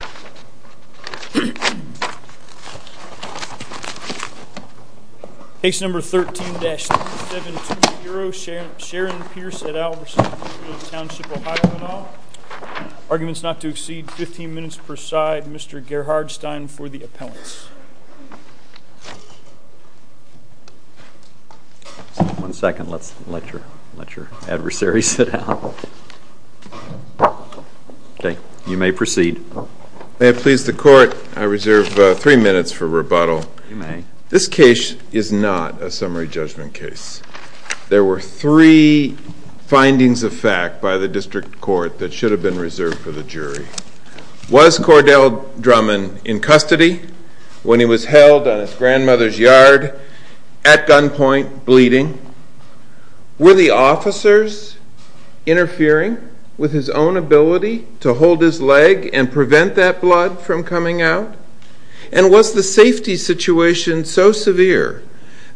and all. Arguments not to exceed 15 minutes per side. Mr. Gerhard Stein for the appellants. One second, let's let your adversary sit down. Okay, you may proceed. May it please the court, I reserve three minutes for rebuttal. You may. This case is not a summary judgment case. There were three findings of fact by the district court that should have been reserved for the jury. Was Cordell Drummond in custody when he was held on his grandmother's yard at gunpoint, bleeding? Were the officers interfering with his own ability to hold his leg and prevent that blood from coming out? And was the safety situation so severe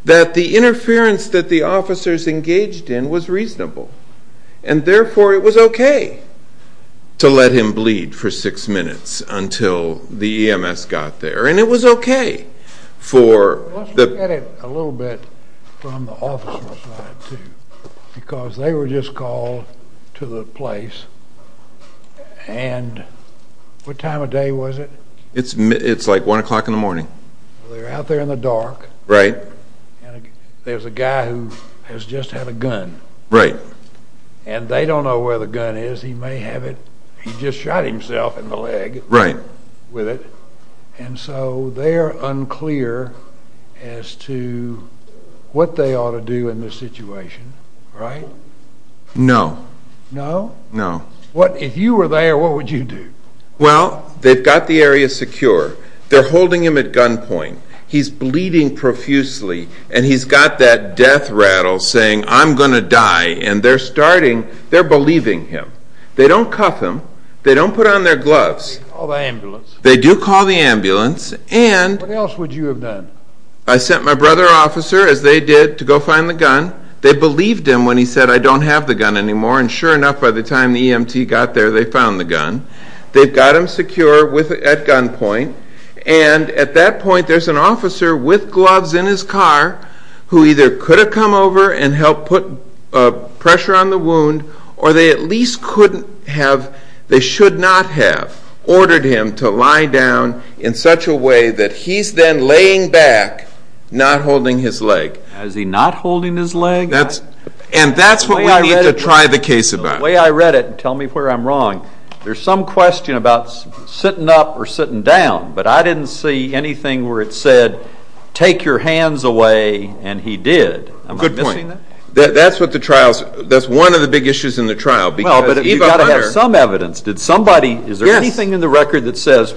that the interference that the officers engaged in was reasonable? And therefore it was okay to let him bleed for six minutes until the EMS got there. Let's look at it a little bit from the officer's side too. Because they were just called to the place. And what time of day was it? It's like one o'clock in the morning. They're out there in the dark. Right. And there's a guy who has just had a gun. Right. And they don't know where the gun is. He may have it. He just shot himself in the leg. Right. And so they're unclear as to what they ought to do in this situation. Right? No. No? No. If you were there, what would you do? Well, they've got the area secure. They're holding him at gunpoint. He's bleeding profusely and he's got that death rattle saying, I'm going to die. And they're starting, they're believing him. They don't cuff him. They don't put on their gloves. They call the ambulance. They do call the ambulance. And... What else would you have done? I sent my brother officer, as they did, to go find the gun. They believed him when he said, I don't have the gun anymore. And sure enough, by the time the EMT got there, they found the gun. They've got him secure at gunpoint. And at that point, there's an officer with gloves in his car who either could have come over and helped put pressure on the wound or they at least couldn't have, they should not have, ordered him to lie down in such a way that he's then laying back, not holding his leg. Is he not holding his leg? And that's what we need to try the case about. The way I read it, and tell me where I'm wrong, there's some question about sitting up or sitting down, but I didn't see anything where it said, take your hands away, and he did. Good point. That's one of the big issues in the trial. Well, but we've got to have some evidence. Did somebody, is there anything in the record that says,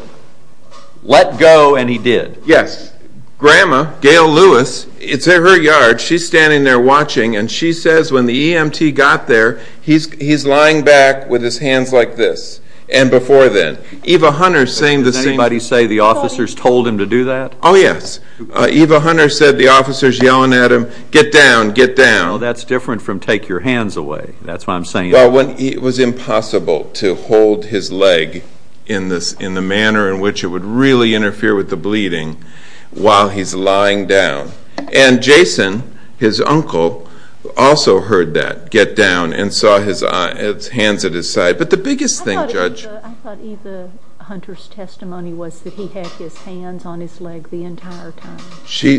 let go, and he did? Yes. Grandma, Gail Lewis, it's at her yard. She's standing there watching, and she says when the EMT got there, he's lying back with his hands like this, and before then. Does anybody say the officers told him to do that? Oh, yes. Eva Hunter said the officers yelling at him, get down, get down. Well, that's different from take your hands away. That's what I'm saying. Well, it was impossible to hold his leg in the manner in which it would really interfere with the bleeding while he's lying down. And Jason, his uncle, also heard that, get down, and saw his hands at his side. But the biggest thing, Judge. I thought Eva Hunter's testimony was that he had his hands on his leg the entire time.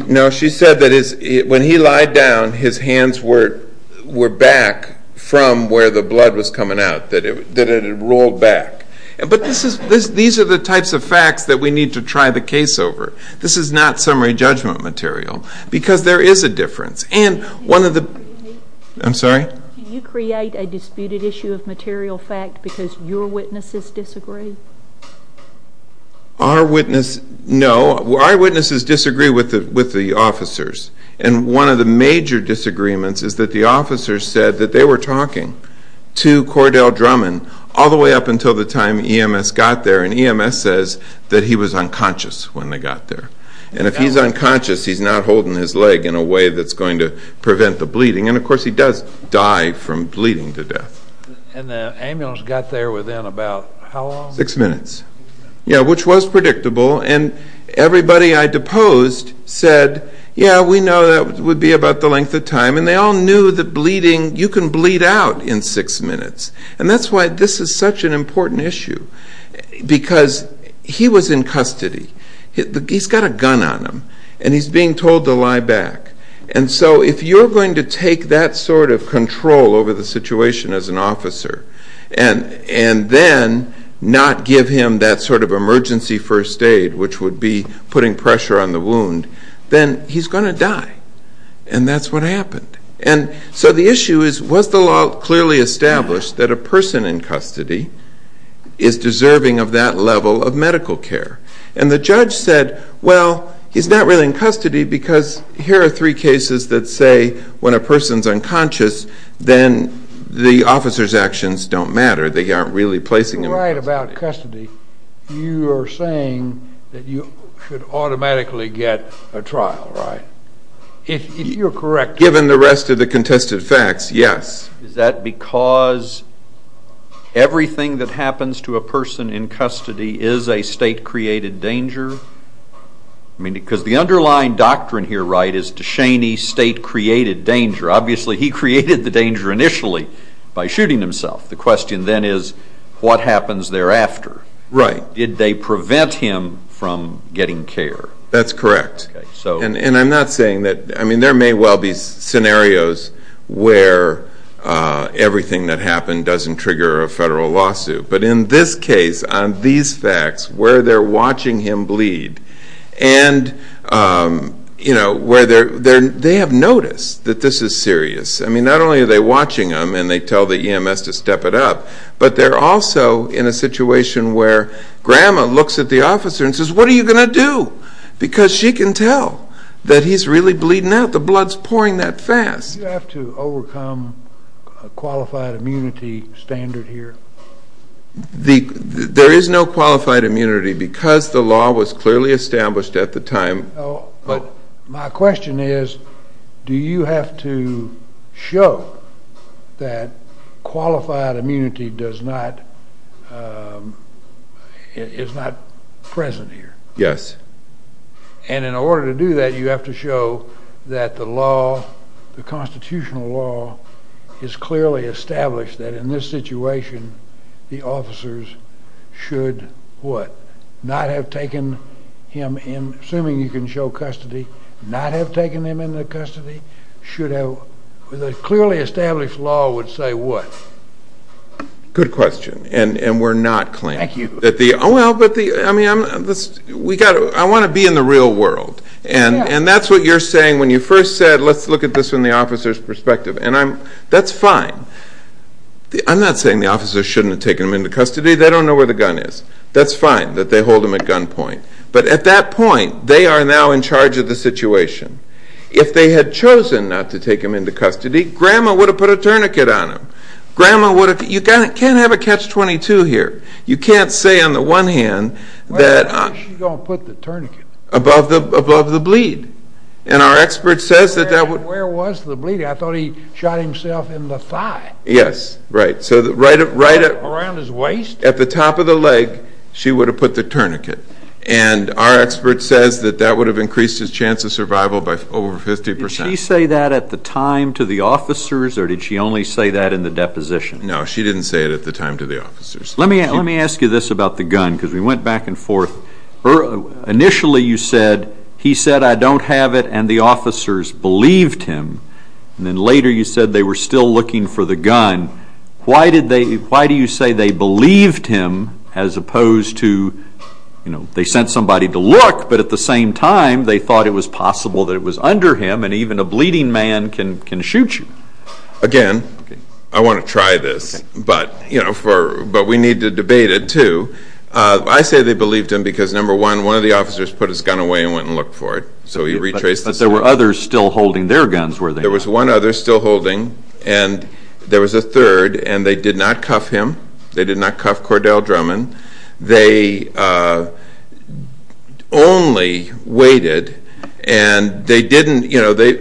No, she said that when he lied down, his hands were back from where the blood was coming out, that it had rolled back. But these are the types of facts that we need to try the case over. This is not summary judgment material, because there is a difference. And one of the, I'm sorry? Do you create a disputed issue of material fact because your witnesses disagree? Our witness, no. Our witnesses disagree with the officers. And one of the major disagreements is that the officers said that they were talking to Cordell Drummond all the way up until the time EMS got there, and EMS says that he was unconscious when they got there. And if he's unconscious, he's not holding his leg in a way that's going to prevent the bleeding. And, of course, he does die from bleeding to death. And the ambulance got there within about how long? Six minutes. Yeah, which was predictable. And everybody I deposed said, yeah, we know that would be about the length of time. And they all knew that bleeding, you can bleed out in six minutes. And that's why this is such an important issue, because he was in custody. He's got a gun on him, and he's being told to lie back. And so if you're going to take that sort of control over the situation as an officer and then not give him that sort of emergency first aid, which would be putting pressure on the wound, then he's going to die. And that's what happened. And so the issue is, was the law clearly established that a person in custody is deserving of that level of medical care? And the judge said, well, he's not really in custody, because here are three cases that say when a person's unconscious, then the officer's actions don't matter. They aren't really placing him in custody. You're right about custody. You are saying that you could automatically get a trial, right? If you're correct. Given the rest of the contested facts, yes. Is that because everything that happens to a person in custody is a state-created danger? I mean, because the underlying doctrine here, right, is DeShaney state-created danger. Obviously he created the danger initially by shooting himself. The question then is, what happens thereafter? Right. Did they prevent him from getting care? That's correct. And I'm not saying that. I mean, there may well be scenarios where everything that happened doesn't trigger a federal lawsuit. But in this case, on these facts, where they're watching him bleed, and, you know, where they have noticed that this is serious. I mean, not only are they watching him and they tell the EMS to step it up, but they're also in a situation where Grandma looks at the officer and says, what are you going to do? Because she can tell that he's really bleeding out. The blood's pouring that fast. Do you have to overcome a qualified immunity standard here? There is no qualified immunity because the law was clearly established at the time. But my question is, do you have to show that qualified immunity is not present here? Yes. And in order to do that, you have to show that the law, the constitutional law, is clearly established that in this situation the officers should what? Not have taken him in, assuming you can show custody, not have taken him into custody? The clearly established law would say what? Good question. And we're not claiming. Thank you. I mean, I want to be in the real world. And that's what you're saying when you first said let's look at this from the officer's perspective. And that's fine. I'm not saying the officers shouldn't have taken him into custody. They don't know where the gun is. That's fine that they hold him at gunpoint. But at that point, they are now in charge of the situation. If they had chosen not to take him into custody, Grandma would have put a tourniquet on him. Grandma would have. You can't have a catch-22 here. You can't say on the one hand that... Where was she going to put the tourniquet? Above the bleed. And our expert says that that would... Where was the bleed? I thought he shot himself in the thigh. Yes, right. Around his waist? At the top of the leg, she would have put the tourniquet. And our expert says that that would have increased his chance of survival by over 50%. Did she say that at the time to the officers, or did she only say that in the deposition? No, she didn't say it at the time to the officers. Let me ask you this about the gun, because we went back and forth. Initially you said, he said, I don't have it, and the officers believed him. And then later you said they were still looking for the gun. Why do you say they believed him as opposed to, you know, they sent somebody to look, but at the same time they thought it was possible that it was under him, and even a bleeding man can shoot you? Again, I want to try this, but we need to debate it, too. I say they believed him because, number one, one of the officers put his gun away and went and looked for it. So he retraced the steps. But there were others still holding their guns where they were. There was one other still holding, and there was a third, and they did not cuff him. They did not cuff Cordell Drummond. They only waited, and they didn't, you know, they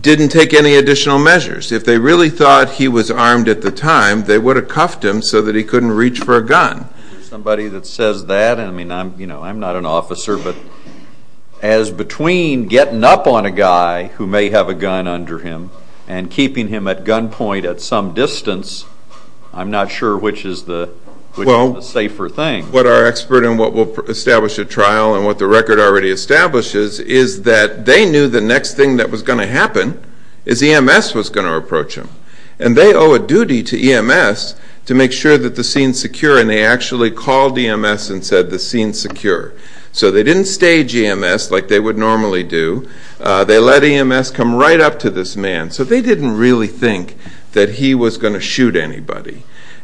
didn't take any additional measures. If they really thought he was armed at the time, they would have cuffed him so that he couldn't reach for a gun. Somebody that says that, and, you know, I'm not an officer, but as between getting up on a guy who may have a gun under him and keeping him at gunpoint at some distance, I'm not sure which is the safer thing. Well, what our expert and what will establish at trial and what the record already establishes is that they knew the next thing that was going to happen is EMS was going to approach him, and they owe a duty to EMS to make sure that the scene's secure, and they actually called EMS and said the scene's secure. So they didn't stage EMS like they would normally do. They let EMS come right up to this man, so they didn't really think that he was going to shoot anybody.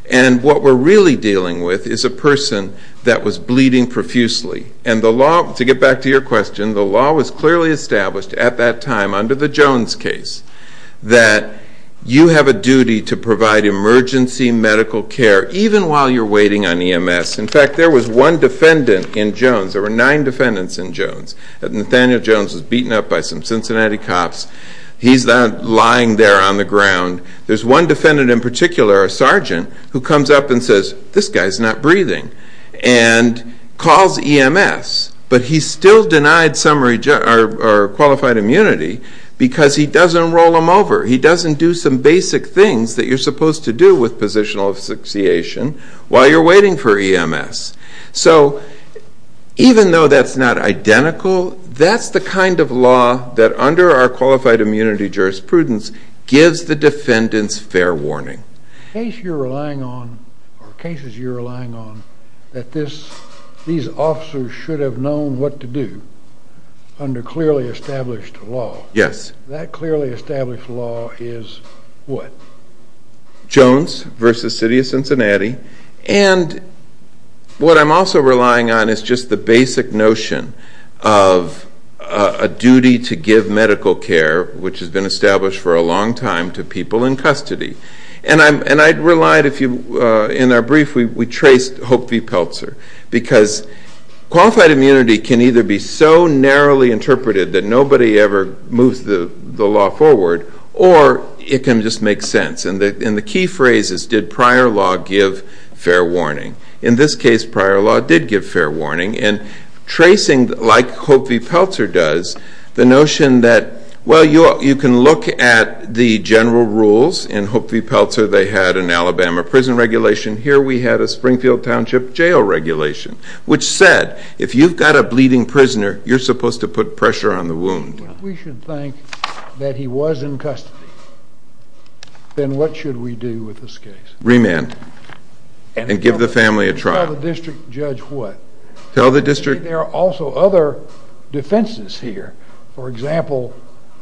And what we're really dealing with is a person that was bleeding profusely, and the law, to get back to your question, the law was clearly established at that time under the Jones case that you have a duty to provide emergency medical care even while you're waiting on EMS. In fact, there was one defendant in Jones. There were nine defendants in Jones. Nathaniel Jones was beaten up by some Cincinnati cops. He's not lying there on the ground. There's one defendant in particular, a sergeant, who comes up and says, this guy's not breathing, and calls EMS. But he's still denied qualified immunity because he doesn't roll him over. He doesn't do some basic things that you're supposed to do with positional association while you're waiting for EMS. So even though that's not identical, that's the kind of law that under our qualified immunity jurisprudence gives the defendants fair warning. The case you're relying on, or cases you're relying on, that these officers should have known what to do under clearly established law. Yes. That clearly established law is what? Jones v. City of Cincinnati. And what I'm also relying on is just the basic notion of a duty to give medical care, which has been established for a long time, to people in custody. And I relied, in our brief, we traced Hope v. Peltzer, because qualified immunity can either be so narrowly interpreted that nobody ever moves the law forward, or it can just make sense. And the key phrase is, did prior law give fair warning? In this case, prior law did give fair warning. And tracing, like Hope v. Peltzer does, the notion that, well, you can look at the general rules. In Hope v. Peltzer, they had an Alabama prison regulation. Here we had a Springfield Township jail regulation, which said if you've got a bleeding prisoner, you're supposed to put pressure on the wound. If we should think that he was in custody, then what should we do with this case? Remand and give the family a trial. Tell the district judge what? Tell the district. There are also other defenses here. For example,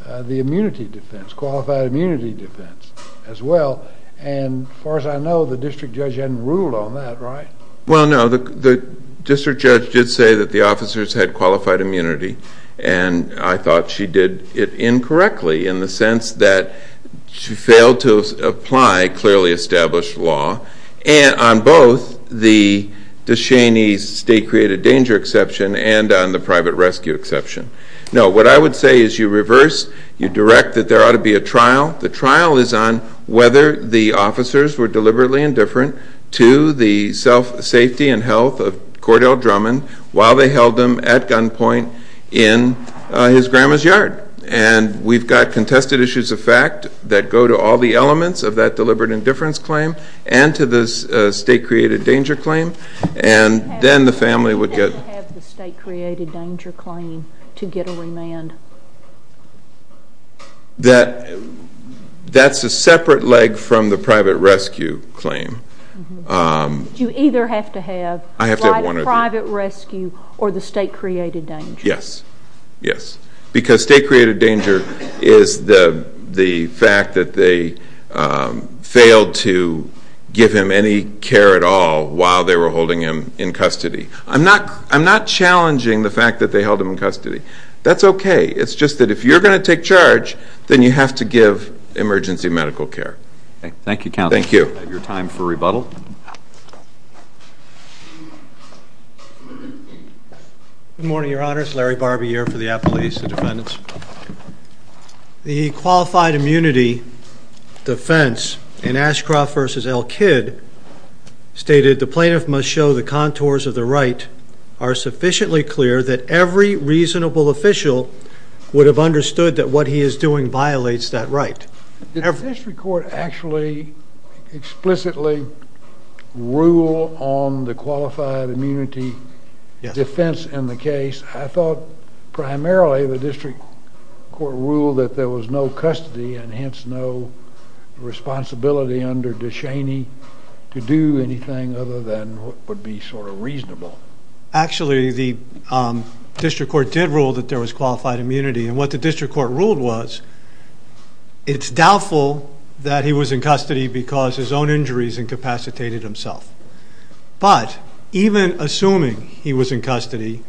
the immunity defense, qualified immunity defense as well. And as far as I know, the district judge hadn't ruled on that, right? Well, no. The district judge did say that the officers had qualified immunity, and I thought she did it incorrectly in the sense that she failed to apply clearly established law on both the Descheny State Created Danger Exception and on the Private Rescue Exception. No, what I would say is you reverse, you direct that there ought to be a trial. The trial is on whether the officers were deliberately indifferent to the safety and health of Cordell Drummond while they held him at gunpoint in his grandma's yard. And we've got contested issues of fact that go to all the elements of that deliberate indifference claim and to the state created danger claim. And then the family would get... You have to have the state created danger claim to get a remand. That's a separate leg from the private rescue claim. You either have to have private rescue or the state created danger. Yes, yes, because state created danger is the fact that they failed to give him any care at all while they were holding him in custody. I'm not challenging the fact that they held him in custody. That's okay. It's just that if you're going to take charge, then you have to give emergency medical care. Okay. Thank you, Counsel. Thank you. I have your time for rebuttal. Good morning, Your Honors. Larry Barbee here for the Appeals to Defendants. The qualified immunity defense in Ashcroft v. L. Kidd stated, the plaintiff must show the contours of the right are sufficiently clear that every reasonable official would have understood that what he is doing violates that right. Did the district court actually explicitly rule on the qualified immunity defense in the case? I thought primarily the district court ruled that there was no custody and hence no responsibility under DeShaney to do anything other than what would be sort of reasonable. Actually, the district court did rule that there was qualified immunity. And what the district court ruled was, it's doubtful that he was in custody because his own injuries incapacitated himself. But even assuming he was in custody,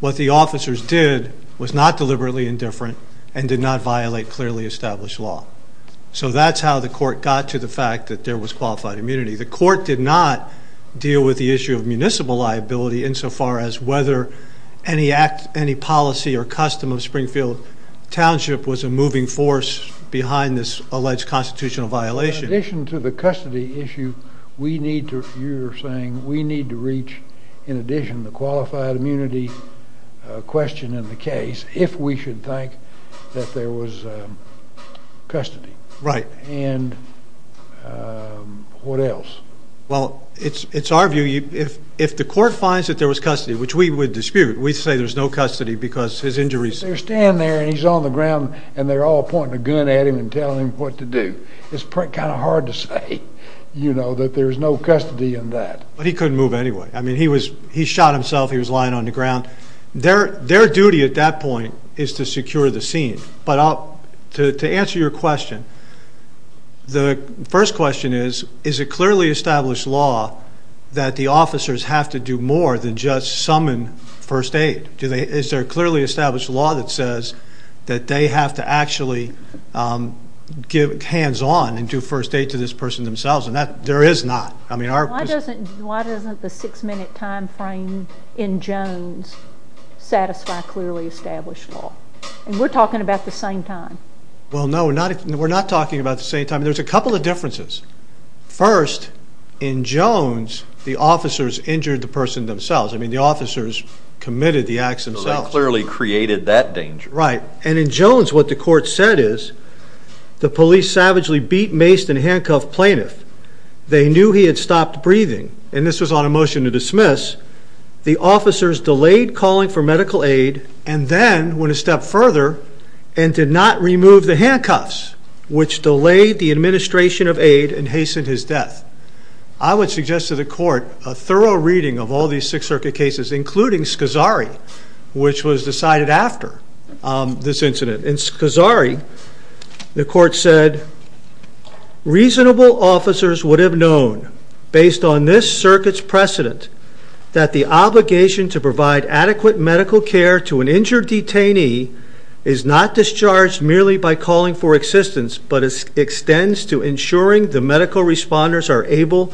what the officers did was not deliberately indifferent and did not violate clearly established law. So that's how the court got to the fact that there was qualified immunity. The court did not deal with the issue of municipal liability insofar as whether any policy or custom of Springfield Township was a moving force behind this alleged constitutional violation. In addition to the custody issue, you're saying we need to reach, in addition to the qualified immunity question in the case, if we should think that there was custody. Right. And what else? Well, it's our view. If the court finds that there was custody, which we would dispute, we'd say there's no custody because his injuries... They're standing there and he's on the ground and they're all pointing a gun at him and telling him what to do. It's kind of hard to say, you know, that there's no custody in that. But he couldn't move anyway. I mean, he shot himself, he was lying on the ground. Their duty at that point is to secure the scene. But to answer your question, the first question is, is it clearly established law that the officers have to do more than just summon first aid? Is there a clearly established law that says that they have to actually give hands-on and do first aid to this person themselves? And there is not. Why doesn't the six-minute time frame in Jones satisfy clearly established law? And we're talking about the same time. Well, no, we're not talking about the same time. There's a couple of differences. First, in Jones, the officers injured the person themselves. I mean, the officers committed the acts themselves. So they clearly created that danger. Right. And in Jones, what the court said is the police savagely beat, maced, and handcuffed plaintiff. They knew he had stopped breathing. And this was on a motion to dismiss. The officers delayed calling for medical aid and then went a step further and did not remove the handcuffs, which delayed the administration of aid and hastened his death. I would suggest to the court a thorough reading of all these Sixth Circuit cases, including Scazzari, which was decided after this incident. In Scazzari, the court said, reasonable officers would have known, based on this circuit's precedent, that the obligation to provide adequate medical care to an injured detainee is not discharged merely by calling for assistance, but extends to ensuring the medical responders are able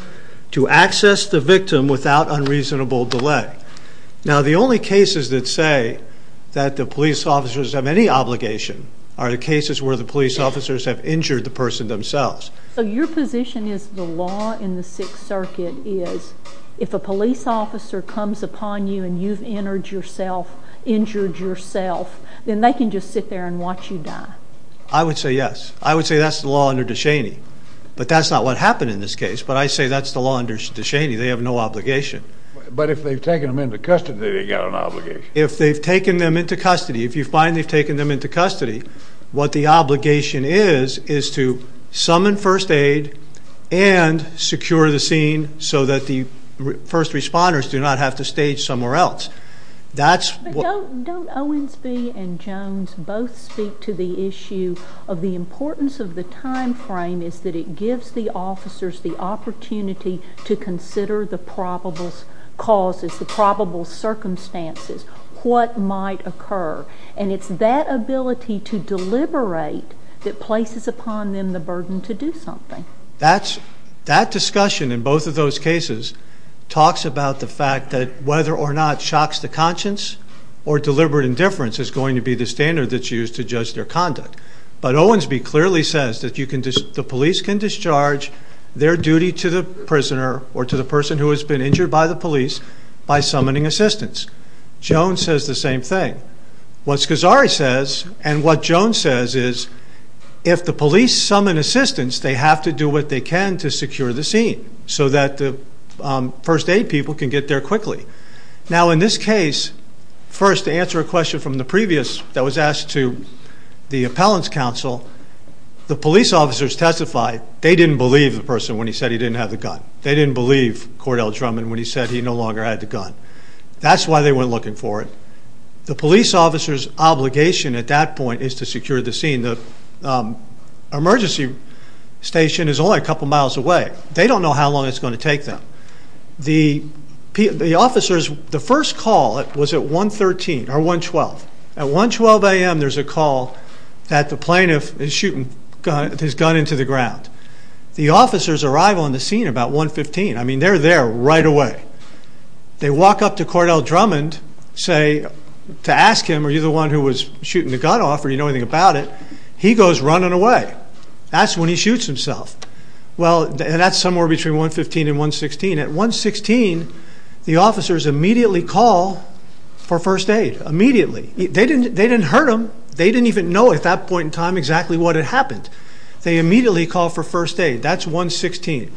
to access the victim without unreasonable delay. Now, the only cases that say that the police officers have any obligation are the cases where the police officers have injured the person themselves. So your position is the law in the Sixth Circuit is if a police officer comes upon you and you've injured yourself, then they can just sit there and watch you die. I would say yes. I would say that's the law under DeShaney. But that's not what happened in this case. But I say that's the law under DeShaney. They have no obligation. But if they've taken them into custody, they've got an obligation. If they've taken them into custody, if you find they've taken them into custody, what the obligation is is to summon first aid and secure the scene so that the first responders do not have to stay somewhere else. But don't Owensby and Jones both speak to the issue of the importance of the time frame is that it gives the officers the opportunity to consider the probable causes, the probable circumstances, what might occur. And it's that ability to deliberate that places upon them the burden to do something. That discussion in both of those cases talks about the fact that whether or not shocks the conscience or deliberate indifference is going to be the standard that's used to judge their conduct. But Owensby clearly says that the police can discharge their duty to the prisoner or to the person who has been injured by the police by summoning assistance. Jones says the same thing. What Scazzari says and what Jones says is if the police summon assistance, they have to do what they can to secure the scene so that the first aid people can get there quickly. Now in this case, first to answer a question from the previous that was asked to the appellant's counsel, the police officers testified they didn't believe the person when he said he didn't have the gun. They didn't believe Cordell Drummond when he said he no longer had the gun. That's why they weren't looking for it. The police officer's obligation at that point is to secure the scene. The emergency station is only a couple miles away. They don't know how long it's going to take them. The officers, the first call was at 112. At 112 a.m. there's a call that the plaintiff is shooting his gun into the ground. The officers arrive on the scene about 115. I mean, they're there right away. They walk up to Cordell Drummond to ask him, are you the one who was shooting the gun off, or do you know anything about it? He goes running away. That's when he shoots himself. That's somewhere between 115 and 116. At 116 the officers immediately call for first aid, immediately. They didn't hurt him. They didn't even know at that point in time exactly what had happened. They immediately called for first aid. That's 116.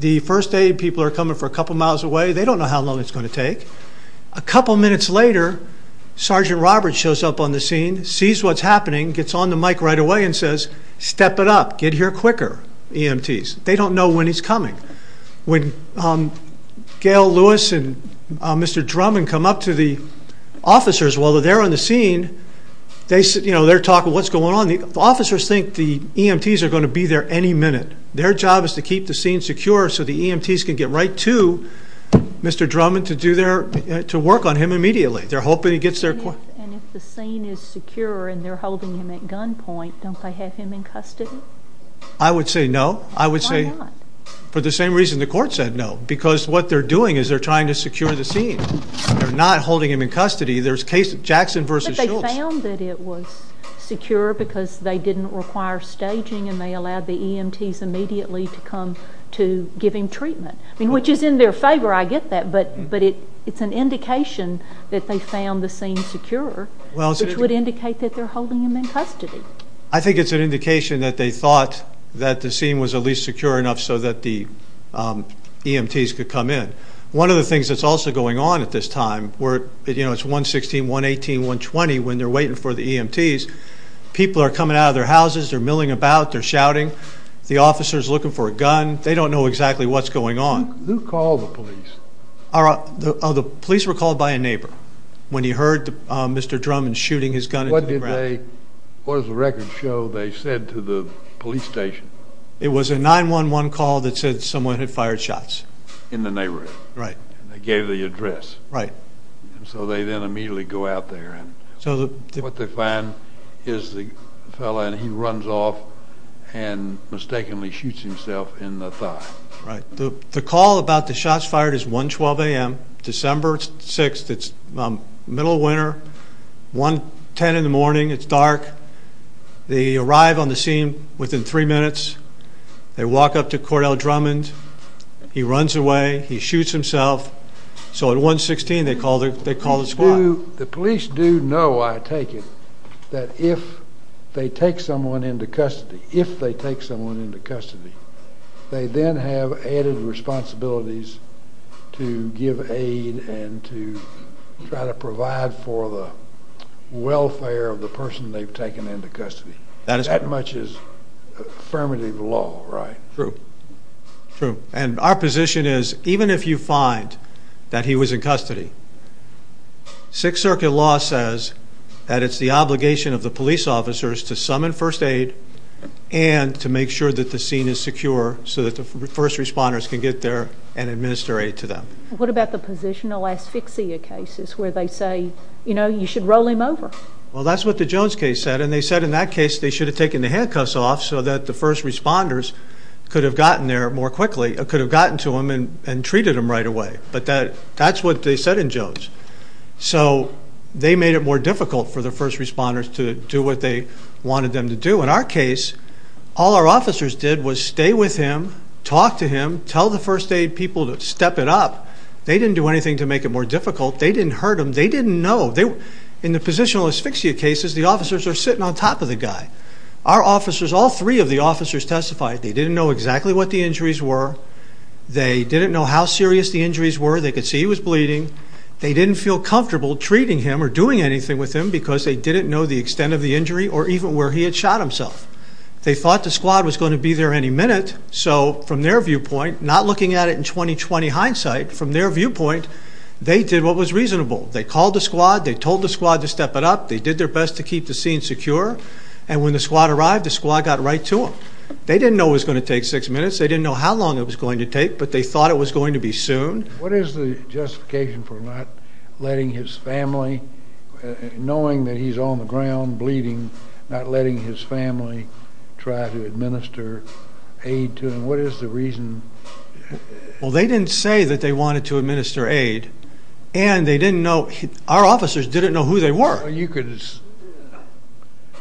The first aid people are coming for a couple miles away. They don't know how long it's going to take. A couple minutes later Sergeant Roberts shows up on the scene, sees what's happening, gets on the mic right away and says, step it up, get here quicker, EMTs. They don't know when he's coming. When Gail Lewis and Mr. Drummond come up to the officers while they're on the scene, they're talking, what's going on? The officers think the EMTs are going to be there any minute. Their job is to keep the scene secure so the EMTs can get right to Mr. Drummond to work on him immediately. They're hoping he gets there quick. And if the scene is secure and they're holding him at gunpoint, don't they have him in custody? I would say no. Why not? For the same reason the court said no, because what they're doing is they're trying to secure the scene. They're not holding him in custody. There's Jackson v. Schultz. But they found that it was secure because they didn't require staging and they allowed the EMTs immediately to come to give him treatment, which is in their favor, I get that, but it's an indication that they found the scene secure, which would indicate that they're holding him in custody. I think it's an indication that they thought that the scene was at least secure enough so that the EMTs could come in. One of the things that's also going on at this time, it's 116, 118, 120, when they're waiting for the EMTs, people are coming out of their houses, they're milling about, they're shouting, the officer's looking for a gun, they don't know exactly what's going on. Who called the police? The police were called by a neighbor when he heard Mr. Drummond shooting his gun into the ground. What does the record show they said to the police station? It was a 911 call that said someone had fired shots. In the neighborhood? Right. And they gave the address? Right. And so they then immediately go out there, and what they find is the fellow, and he runs off and mistakenly shoots himself in the thigh. Right. The call about the shots fired is 112 AM, December 6th. It's the middle of winter, 110 in the morning, it's dark. They arrive on the scene within three minutes. They walk up to Cordell Drummond. He runs away. He shoots himself. So at 116, they call the squad. The police do know, I take it, that if they take someone into custody, if they take someone into custody, they then have added responsibilities to give aid and to try to provide for the welfare of the person they've taken into custody. That much is affirmative law, right? True. True. And our position is even if you find that he was in custody, Sixth Circuit law says that it's the obligation of the police officers to summon first aid and to make sure that the scene is secure so that the first responders can get there and administer aid to them. What about the positional asphyxia cases where they say, you know, you should roll him over? Well, that's what the Jones case said, and they said in that case they should have taken the handcuffs off so that the first responders could have gotten there more quickly, could have gotten to him and treated him right away. But that's what they said in Jones. So they made it more difficult for the first responders to do what they wanted them to do. In our case, all our officers did was stay with him, talk to him, tell the first aid people to step it up. They didn't do anything to make it more difficult. They didn't hurt him. They didn't know. In the positional asphyxia cases, the officers are sitting on top of the guy. Our officers, all three of the officers testified, they didn't know exactly what the injuries were. They didn't know how serious the injuries were. They could see he was bleeding. They didn't feel comfortable treating him or doing anything with him because they didn't know the extent of the injury or even where he had shot himself. They thought the squad was going to be there any minute, so from their viewpoint, not looking at it in 20-20 hindsight, from their viewpoint, they did what was reasonable. They called the squad. They told the squad to step it up. They did their best to keep the scene secure. And when the squad arrived, the squad got right to them. They didn't know it was going to take six minutes. They didn't know how long it was going to take, but they thought it was going to be soon. What is the justification for not letting his family, knowing that he's on the ground bleeding, not letting his family try to administer aid to him? What is the reason? Well, they didn't say that they wanted to administer aid, and they didn't know. Our officers didn't know who they were.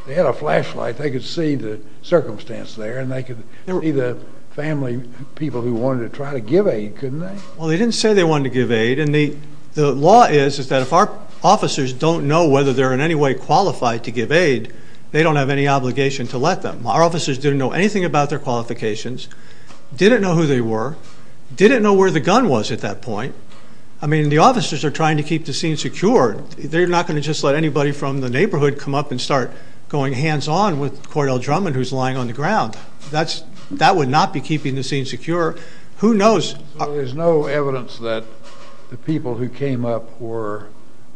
They had a flashlight. They could see the circumstance there, and they could see the family people who wanted to try to give aid, couldn't they? Well, they didn't say they wanted to give aid, and the law is that if our officers don't know whether they're in any way qualified to give aid, they don't have any obligation to let them. Our officers didn't know anything about their qualifications, didn't know who they were, didn't know where the gun was at that point. I mean, the officers are trying to keep the scene secure. They're not going to just let anybody from the neighborhood come up and start going hands-on with Cordell Drummond, who's lying on the ground. That would not be keeping the scene secure. Who knows? So there's no evidence that the people who came up were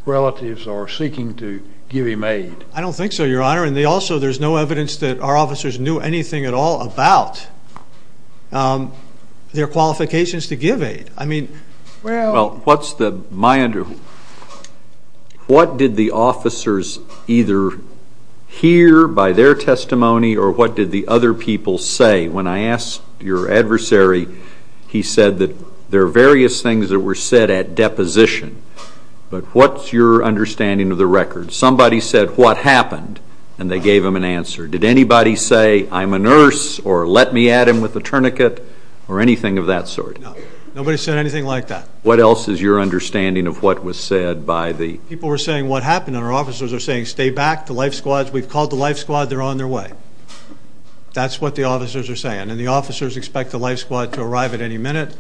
relatives or seeking to give him aid? I don't think so, Your Honor, and also there's no evidence that our officers knew anything at all about their qualifications to give aid. Well, what did the officers either hear by their testimony or what did the other people say? When I asked your adversary, he said that there are various things that were said at deposition, but what's your understanding of the record? Somebody said, what happened? And they gave him an answer. Did anybody say, I'm a nurse, or let me at him with a tourniquet, or anything of that sort? No. Nobody said anything like that. What else is your understanding of what was said by the? People were saying, what happened? And our officers are saying, stay back. The life squads, we've called the life squad. They're on their way. That's what the officers are saying. And the officers expect the life squad to arrive at any minute.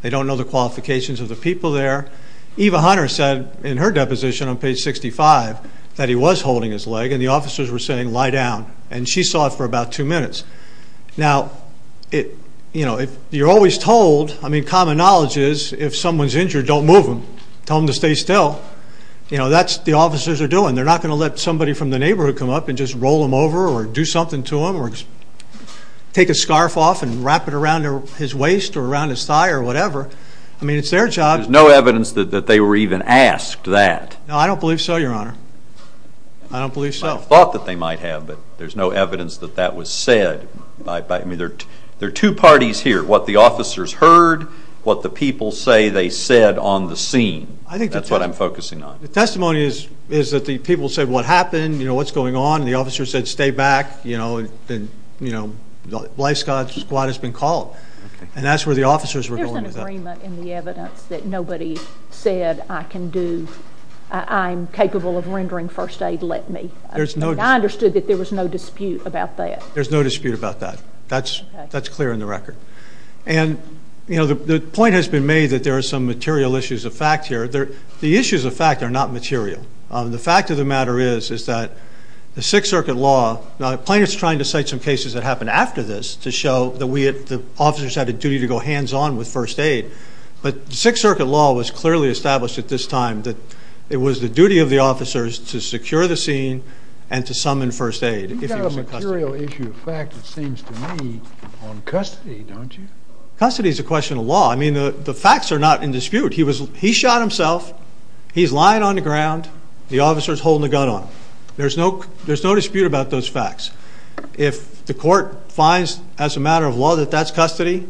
They don't know the qualifications of the people there. Eva Hunter said in her deposition on page 65 that he was holding his leg, and the officers were saying, lie down. And she saw it for about two minutes. Now, you're always told, I mean, common knowledge is, if someone's injured, don't move them. Tell them to stay still. That's what the officers are doing. They're not going to let somebody from the neighborhood come up and just roll them over or do something to them or take a scarf off and wrap it around his waist or around his thigh or whatever. I mean, it's their job. There's no evidence that they were even asked that. No, I don't believe so, Your Honor. I don't believe so. But there's no evidence that that was said. I mean, there are two parties here, what the officers heard, what the people say they said on the scene. That's what I'm focusing on. The testimony is that the people said, What happened? What's going on? And the officer said, Stay back. The life squad has been called. And that's where the officers were going with that. There's an agreement in the evidence that nobody said, I can do, I'm capable of rendering first aid, let me. I understood that there was no dispute about that. There's no dispute about that. That's clear in the record. And, you know, the point has been made that there are some material issues of fact here. The issues of fact are not material. The fact of the matter is that the Sixth Circuit law, now the plaintiff's trying to cite some cases that happened after this to show that the officers had a duty to go hands-on with first aid, but the Sixth Circuit law was clearly established at this time that it was the duty of the officers to secure the scene and to summon first aid. You've got a material issue of fact, it seems to me, on custody, don't you? Custody is a question of law. I mean, the facts are not in dispute. He shot himself. He's lying on the ground. The officer is holding a gun on him. There's no dispute about those facts. If the court finds, as a matter of law, that that's custody,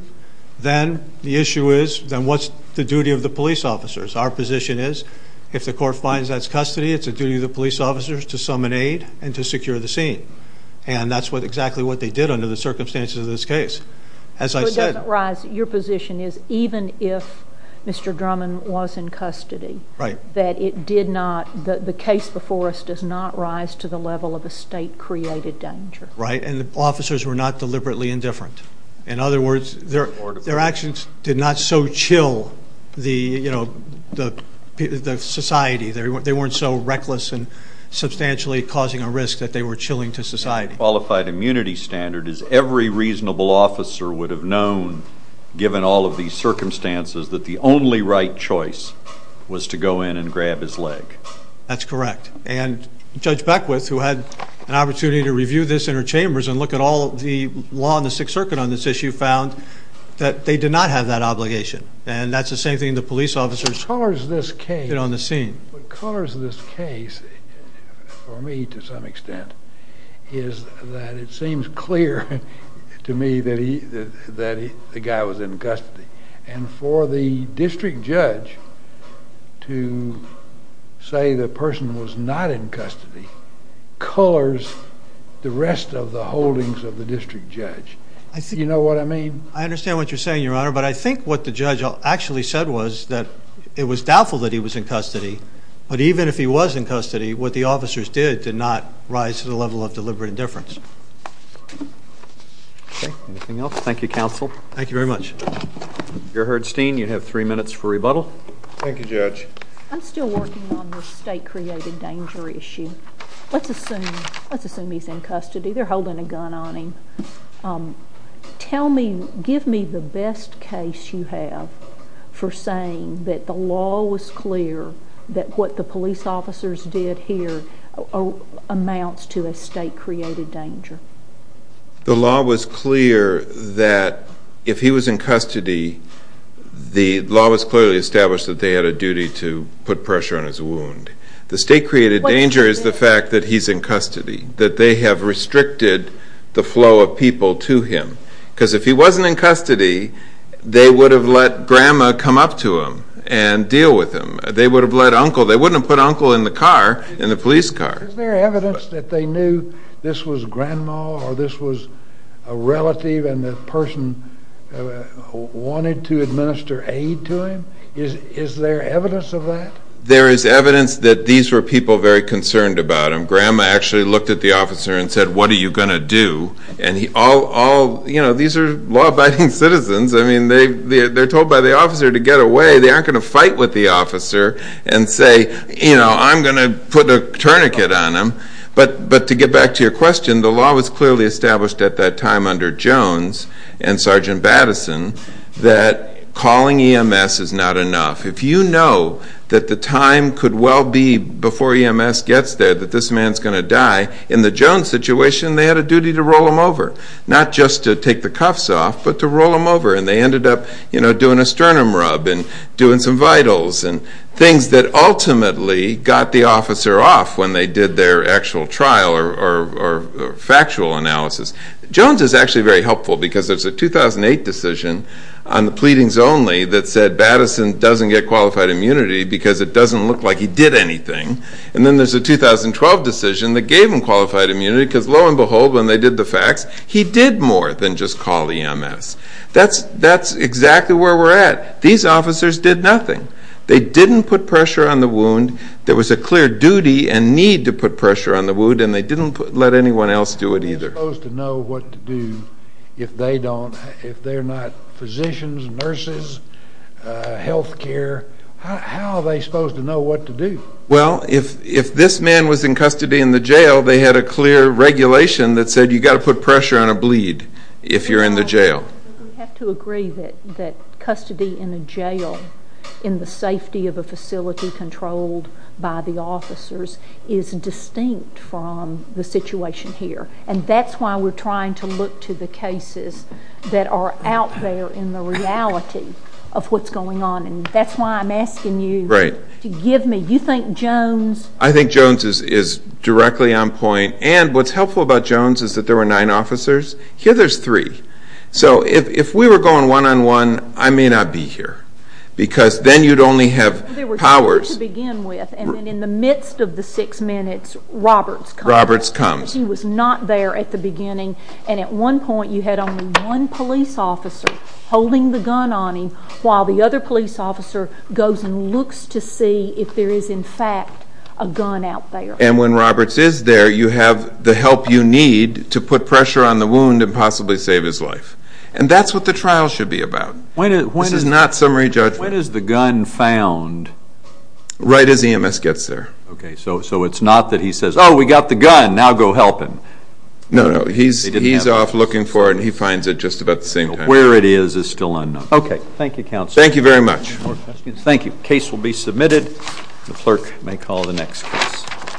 then the issue is, then what's the duty of the police officers? Our position is, if the court finds that's custody, it's the duty of the police officers to summon aid and to secure the scene. And that's exactly what they did under the circumstances of this case. As I said. Your position is, even if Mr. Drummond was in custody, that the case before us does not rise to the level of a state-created danger. Right, and the officers were not deliberately indifferent. In other words, their actions did not so chill the society. They weren't so reckless and substantially causing a risk that they were chilling to society. Qualified immunity standard is every reasonable officer would have known, given all of these circumstances, that the only right choice was to go in and grab his leg. That's correct. And Judge Beckwith, who had an opportunity to review this in her chambers and look at all the law in the Sixth Circuit on this issue, found that they did not have that obligation. And that's the same thing the police officers did on the scene. What colors this case for me to some extent is that it seems clear to me that the guy was in custody. And for the district judge to say the person was not in custody colors the rest of the holdings of the district judge. You know what I mean? I understand what you're saying, Your Honor, but I think what the judge actually said was that it was doubtful that he was in custody, but even if he was in custody, what the officers did did not rise to the level of deliberate indifference. Okay, anything else? Thank you, Counsel. Thank you very much. Mr. Herdstein, you have three minutes for rebuttal. Thank you, Judge. I'm still working on the state-created danger issue. Let's assume he's in custody. They're holding a gun on him. Tell me, give me the best case you have for saying that the law was clear that what the police officers did here amounts to a state-created danger. The law was clear that if he was in custody, the law was clearly established that they had a duty to put pressure on his wound. The state-created danger is the fact that he's in custody, that they have restricted the flow of people to him. Because if he wasn't in custody, they would have let Grandma come up to him and deal with him. They would have let Uncle, they wouldn't have put Uncle in the car, in the police car. Is there evidence that they knew this was Grandma or this was a relative and the person wanted to administer aid to him? Is there evidence of that? There is evidence that these were people very concerned about him. Grandma actually looked at the officer and said, what are you going to do? And all, you know, these are law-abiding citizens. I mean, they're told by the officer to get away. They aren't going to fight with the officer and say, you know, I'm going to put a tourniquet on him. But to get back to your question, the law was clearly established at that time under Jones and Sergeant Battison that calling EMS is not enough. If you know that the time could well be before EMS gets there that this man's going to die, in the Jones situation, they had a duty to roll him over, not just to take the cuffs off, but to roll him over. And they ended up, you know, doing a sternum rub and doing some vitals and things that ultimately got the officer off when they did their actual trial or factual analysis. Jones is actually very helpful because there's a 2008 decision on the pleadings only that said Battison doesn't get qualified immunity because it doesn't look like he did anything. And then there's a 2012 decision that gave him qualified immunity because lo and behold, when they did the facts, he did more than just call EMS. That's exactly where we're at. These officers did nothing. They didn't put pressure on the wound. There was a clear duty and need to put pressure on the wound, and they didn't let anyone else do it either. They're supposed to know what to do if they're not physicians, nurses, health care. How are they supposed to know what to do? Well, if this man was in custody in the jail, they had a clear regulation that said you've got to put pressure on a bleed if you're in the jail. We have to agree that custody in a jail in the safety of a facility controlled by the officers is distinct from the situation here, and that's why we're trying to look to the cases that are out there in the reality of what's going on, and that's why I'm asking you to give me. Do you think Jones? I think Jones is directly on point. And what's helpful about Jones is that there were nine officers. Here there's three. So if we were going one-on-one, I may not be here because then you'd only have powers. There were three to begin with, and then in the midst of the six minutes, Roberts comes. Roberts comes. He was not there at the beginning, and at one point you had only one police officer holding the gun on him while the other police officer goes and looks to see if there is in fact a gun out there. And when Roberts is there, you have the help you need to put pressure on the wound and possibly save his life. And that's what the trial should be about. This is not summary judgment. When is the gun found? Right as EMS gets there. Okay. So it's not that he says, oh, we got the gun. Now go help him. No, no. He's off looking for it, and he finds it just about the same time. Where it is is still unknown. Okay. Thank you, counsel. Thank you very much. Any more questions? Thank you. The case will be submitted. The clerk may call the next case.